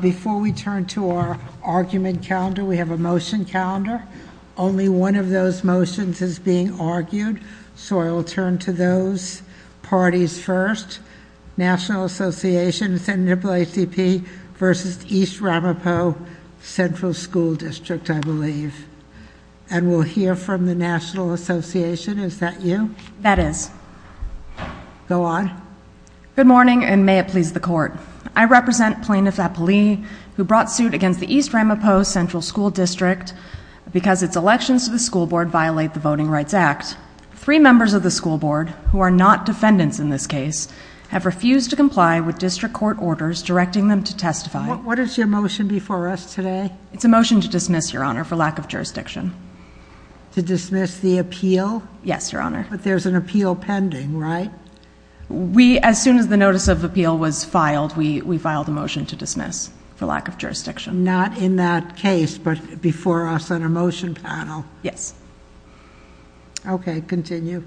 Before we turn to our argument calendar, we have a motion calendar. Only one of those motions is being argued, so I will turn to those parties first. National Association, Senate AACP versus East Ramapo Central School District, I believe. And we'll hear from the National Association. Is that you? That is. Go on. Good morning, and may it please the Court. I represent Plaintiff Appali, who brought suit against the East Ramapo Central School District because its elections to the school board violate the Voting Rights Act. Three members of the school board, who are not defendants in this case, have refused to comply with district court orders directing them to testify. What is your motion before us today? It's a motion to dismiss, Your Honor, for lack of jurisdiction. To dismiss the appeal? Yes, Your Honor. But there's an appeal pending, right? As soon as the notice of appeal was filed, we filed a motion to dismiss for lack of jurisdiction. Not in that case, but before us on our motion panel. Yes. Okay, continue.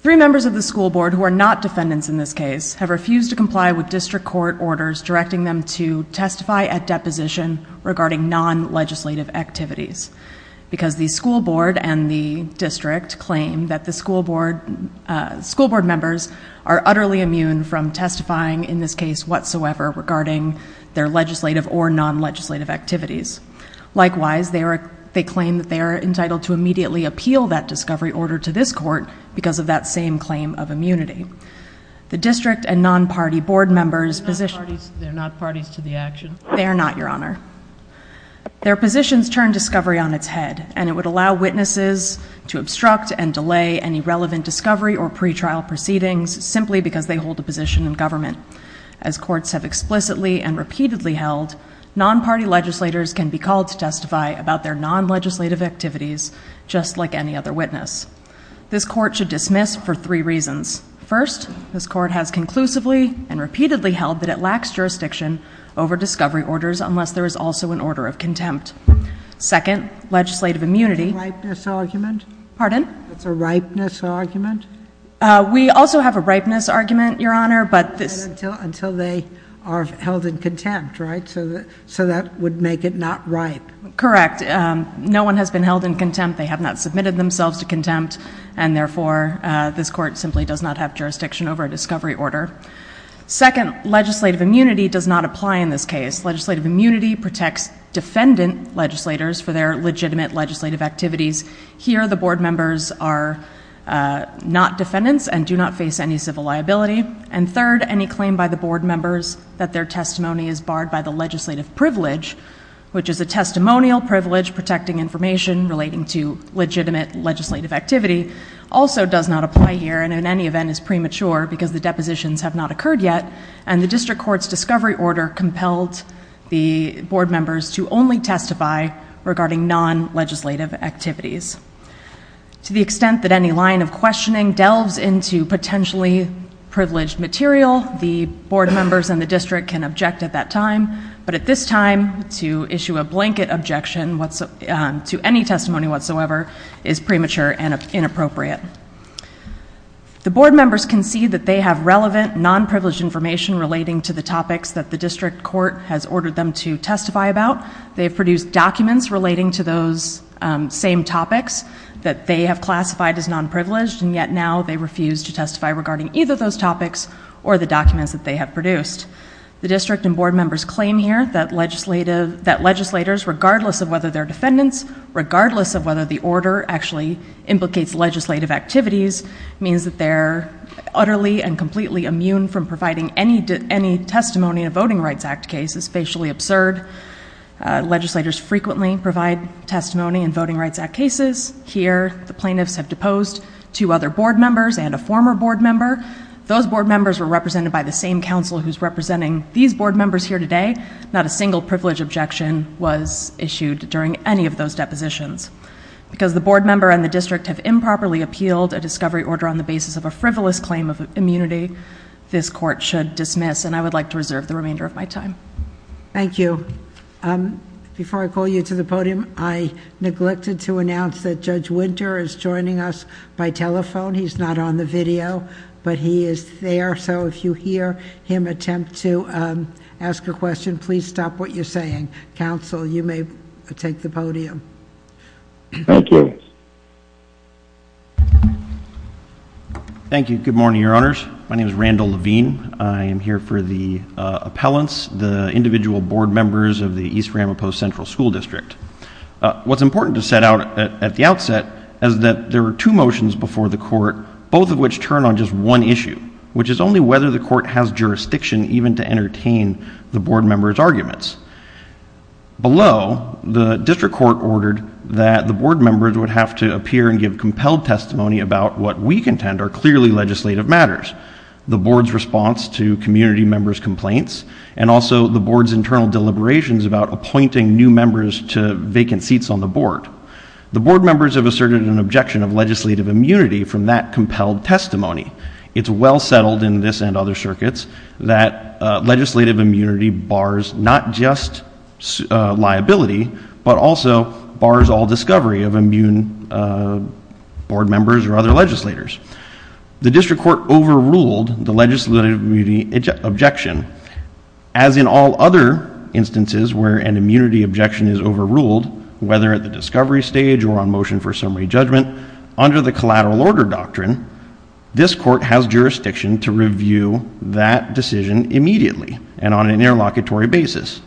Three members of the school board, who are not defendants in this case, have refused to comply with district court orders directing them to testify at deposition regarding non-legislative activities. Because the school board and the district claim that the school board members are utterly immune from testifying in this case whatsoever regarding their legislative or non-legislative activities. Likewise, they claim that they are entitled to immediately appeal that discovery order to this court because of that same claim of immunity. The district and non-party board members position They're not parties to the action. They are not, Your Honor. Their positions turn discovery on its head, and it would allow witnesses to obstruct and delay any relevant discovery or pretrial proceedings simply because they hold a position in government. As courts have explicitly and repeatedly held, non-party legislators can be called to testify about their non-legislative activities, just like any other witness. This court should dismiss for three reasons. First, this court has conclusively and repeatedly held that it lacks jurisdiction over discovery orders unless there is also an order of contempt. Second, legislative immunity Ripeness argument? Pardon? It's a ripeness argument? We also have a ripeness argument, Your Honor, but this Until they are held in contempt, right? So that would make it not ripe. Correct. No one has been held in contempt. They have not submitted themselves to contempt, and therefore this court simply does not have jurisdiction over a discovery order. Second, legislative immunity does not apply in this case. Legislative immunity protects defendant legislators for their legitimate legislative activities. Here, the board members are not defendants and do not face any civil liability. And third, any claim by the board members that their testimony is barred by the legislative privilege, which is a testimonial privilege protecting information relating to legitimate legislative activity, also does not apply here and in any event is premature because the depositions have not occurred yet, and the district court's discovery order compelled the board members to only testify regarding non-legislative activities. To the extent that any line of questioning delves into potentially privileged material, the board members and the district can object at that time, but at this time, to issue a blanket objection to any testimony whatsoever is premature and inappropriate. The board members concede that they have relevant, non-privileged information relating to the topics that the district court has ordered them to testify about. They have produced documents relating to those same topics that they have classified as non-privileged, and yet now they refuse to testify regarding either those topics or the documents that they have produced. The district and board members claim here that legislators, regardless of whether they're defendants, regardless of whether the order actually implicates legislative activities, means that they're utterly and completely immune from providing any testimony in a Voting Rights Act case is facially absurd. Legislators frequently provide testimony in Voting Rights Act cases. Here, the plaintiffs have deposed two other board members and a former board member. Those board members were represented by the same counsel who's representing these board members here today. Not a single privilege objection was issued during any of those depositions. Because the board member and the district have improperly appealed a discovery order on the basis of a frivolous claim of immunity, this court should dismiss, and I would like to reserve the remainder of my time. Thank you. Before I call you to the podium, I neglected to announce that Judge Winter is joining us by telephone. He's not on the video, but he is there. So if you hear him attempt to ask a question, please stop what you're saying. Counsel, you may take the podium. Thank you. Thank you. Good morning, Your Honors. My name is Randall Levine. I am here for the appellants, the individual board members of the East Ramapo Central School District. What's important to set out at the outset is that there are two motions before the court, both of which turn on just one issue, which is only whether the court has jurisdiction even to entertain the board members' arguments. Below, the district court ordered that the board members would have to appear and give compelled testimony about what we contend are clearly legislative matters, the board's response to community members' complaints, and also the board's internal deliberations about appointing new members to vacant seats on the board. The board members have asserted an objection of legislative immunity from that compelled testimony. It's well settled in this and other circuits that legislative immunity bars not just liability, but also bars all discovery of immune board members or other legislators. The district court overruled the legislative objection. As in all other instances where an immunity objection is overruled, whether at the discovery stage or on motion for summary judgment, under the collateral order doctrine, this court has jurisdiction to review that decision immediately and on an interlocutory basis.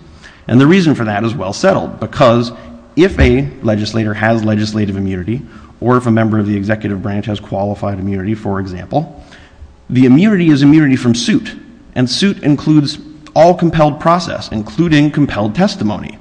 And the reason for that is well settled, because if a legislator has legislative immunity, or if a member of the executive branch has qualified immunity, for example, the immunity is immunity from suit. And suit includes all compelled process, including compelled testimony.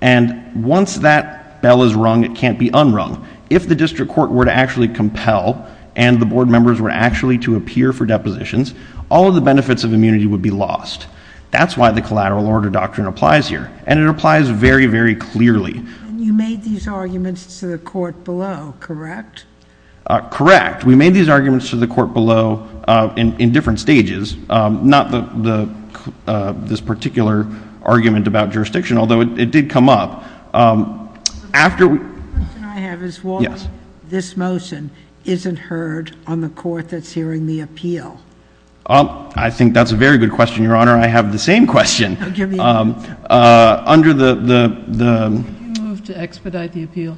And once that bell is rung, it can't be unrung. If the district court were to actually compel and the board members were actually to appear for depositions, all of the benefits of immunity would be lost. That's why the collateral order doctrine applies here. And it applies very, very clearly. And you made these arguments to the court below, correct? Correct. We made these arguments to the court below in different stages. Not this particular argument about jurisdiction, although it did come up. The question I have is why this motion isn't heard on the court that's hearing the appeal? I think that's a very good question, Your Honor. I have the same question. Do you move to expedite the appeal?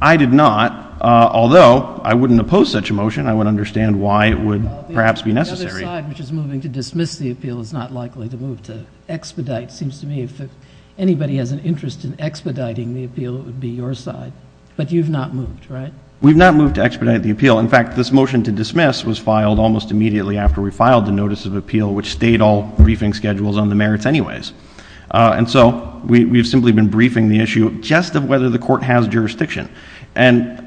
I did not, although I wouldn't oppose such a motion. I would understand why it would perhaps be necessary. The other side, which is moving to dismiss the appeal, is not likely to move to expedite. It seems to me if anybody has an interest in expediting the appeal, it would be your side. But you've not moved, right? We've not moved to expedite the appeal. In fact, this motion to dismiss was filed almost immediately after we filed the notice of appeal, which stayed all briefing schedules on the merits anyways. And so we've simply been briefing the issue just of whether the court has jurisdiction. And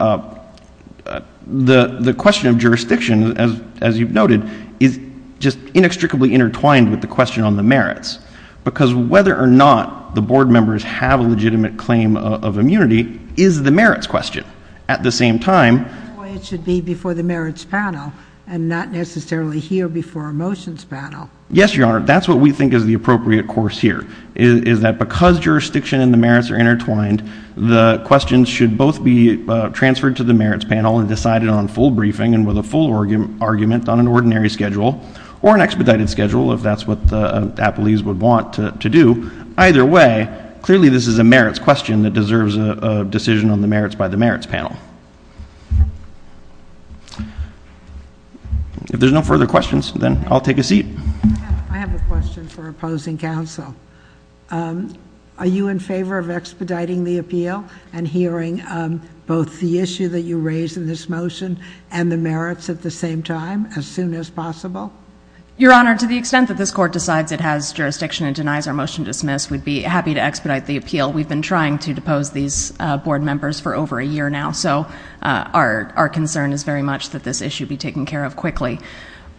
the question of jurisdiction, as you've noted, is just inextricably intertwined with the question on the merits. Because whether or not the board members have a legitimate claim of immunity is the merits question. At the same time— That's why it should be before the merits panel and not necessarily here before a motions panel. Yes, Your Honor. That's what we think is the appropriate course here, is that because jurisdiction and the merits are intertwined, the questions should both be transferred to the merits panel and decided on full briefing and with a full argument on an ordinary schedule or an expedited schedule, if that's what the appellees would want to do. Either way, clearly this is a merits question that deserves a decision on the merits by the merits panel. If there's no further questions, then I'll take a seat. I have a question for opposing counsel. Are you in favor of expediting the appeal and hearing both the issue that you raised in this motion and the merits at the same time as soon as possible? Your Honor, to the extent that this court decides it has jurisdiction and denies our motion to dismiss, we'd be happy to expedite the appeal. We've been trying to depose these board members for over a year now, so our concern is very much that this issue be taken care of quickly.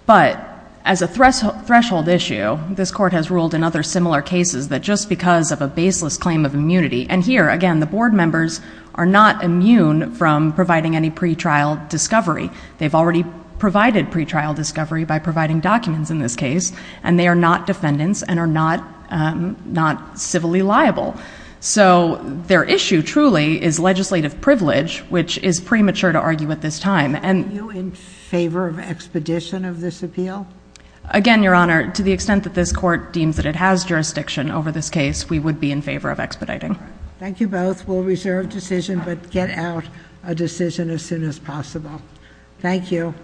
But as a threshold issue, this court has ruled in other similar cases that just because of a baseless claim of immunity— and here, again, the board members are not immune from providing any pretrial discovery. They've already provided pretrial discovery by providing documents in this case, and they are not defendants and are not civilly liable. So their issue, truly, is legislative privilege, which is premature to argue at this time. Are you in favor of expedition of this appeal? Again, Your Honor, to the extent that this court deems that it has jurisdiction over this case, we would be in favor of expediting. Thank you both. We'll reserve decision, but get out a decision as soon as possible. Thank you.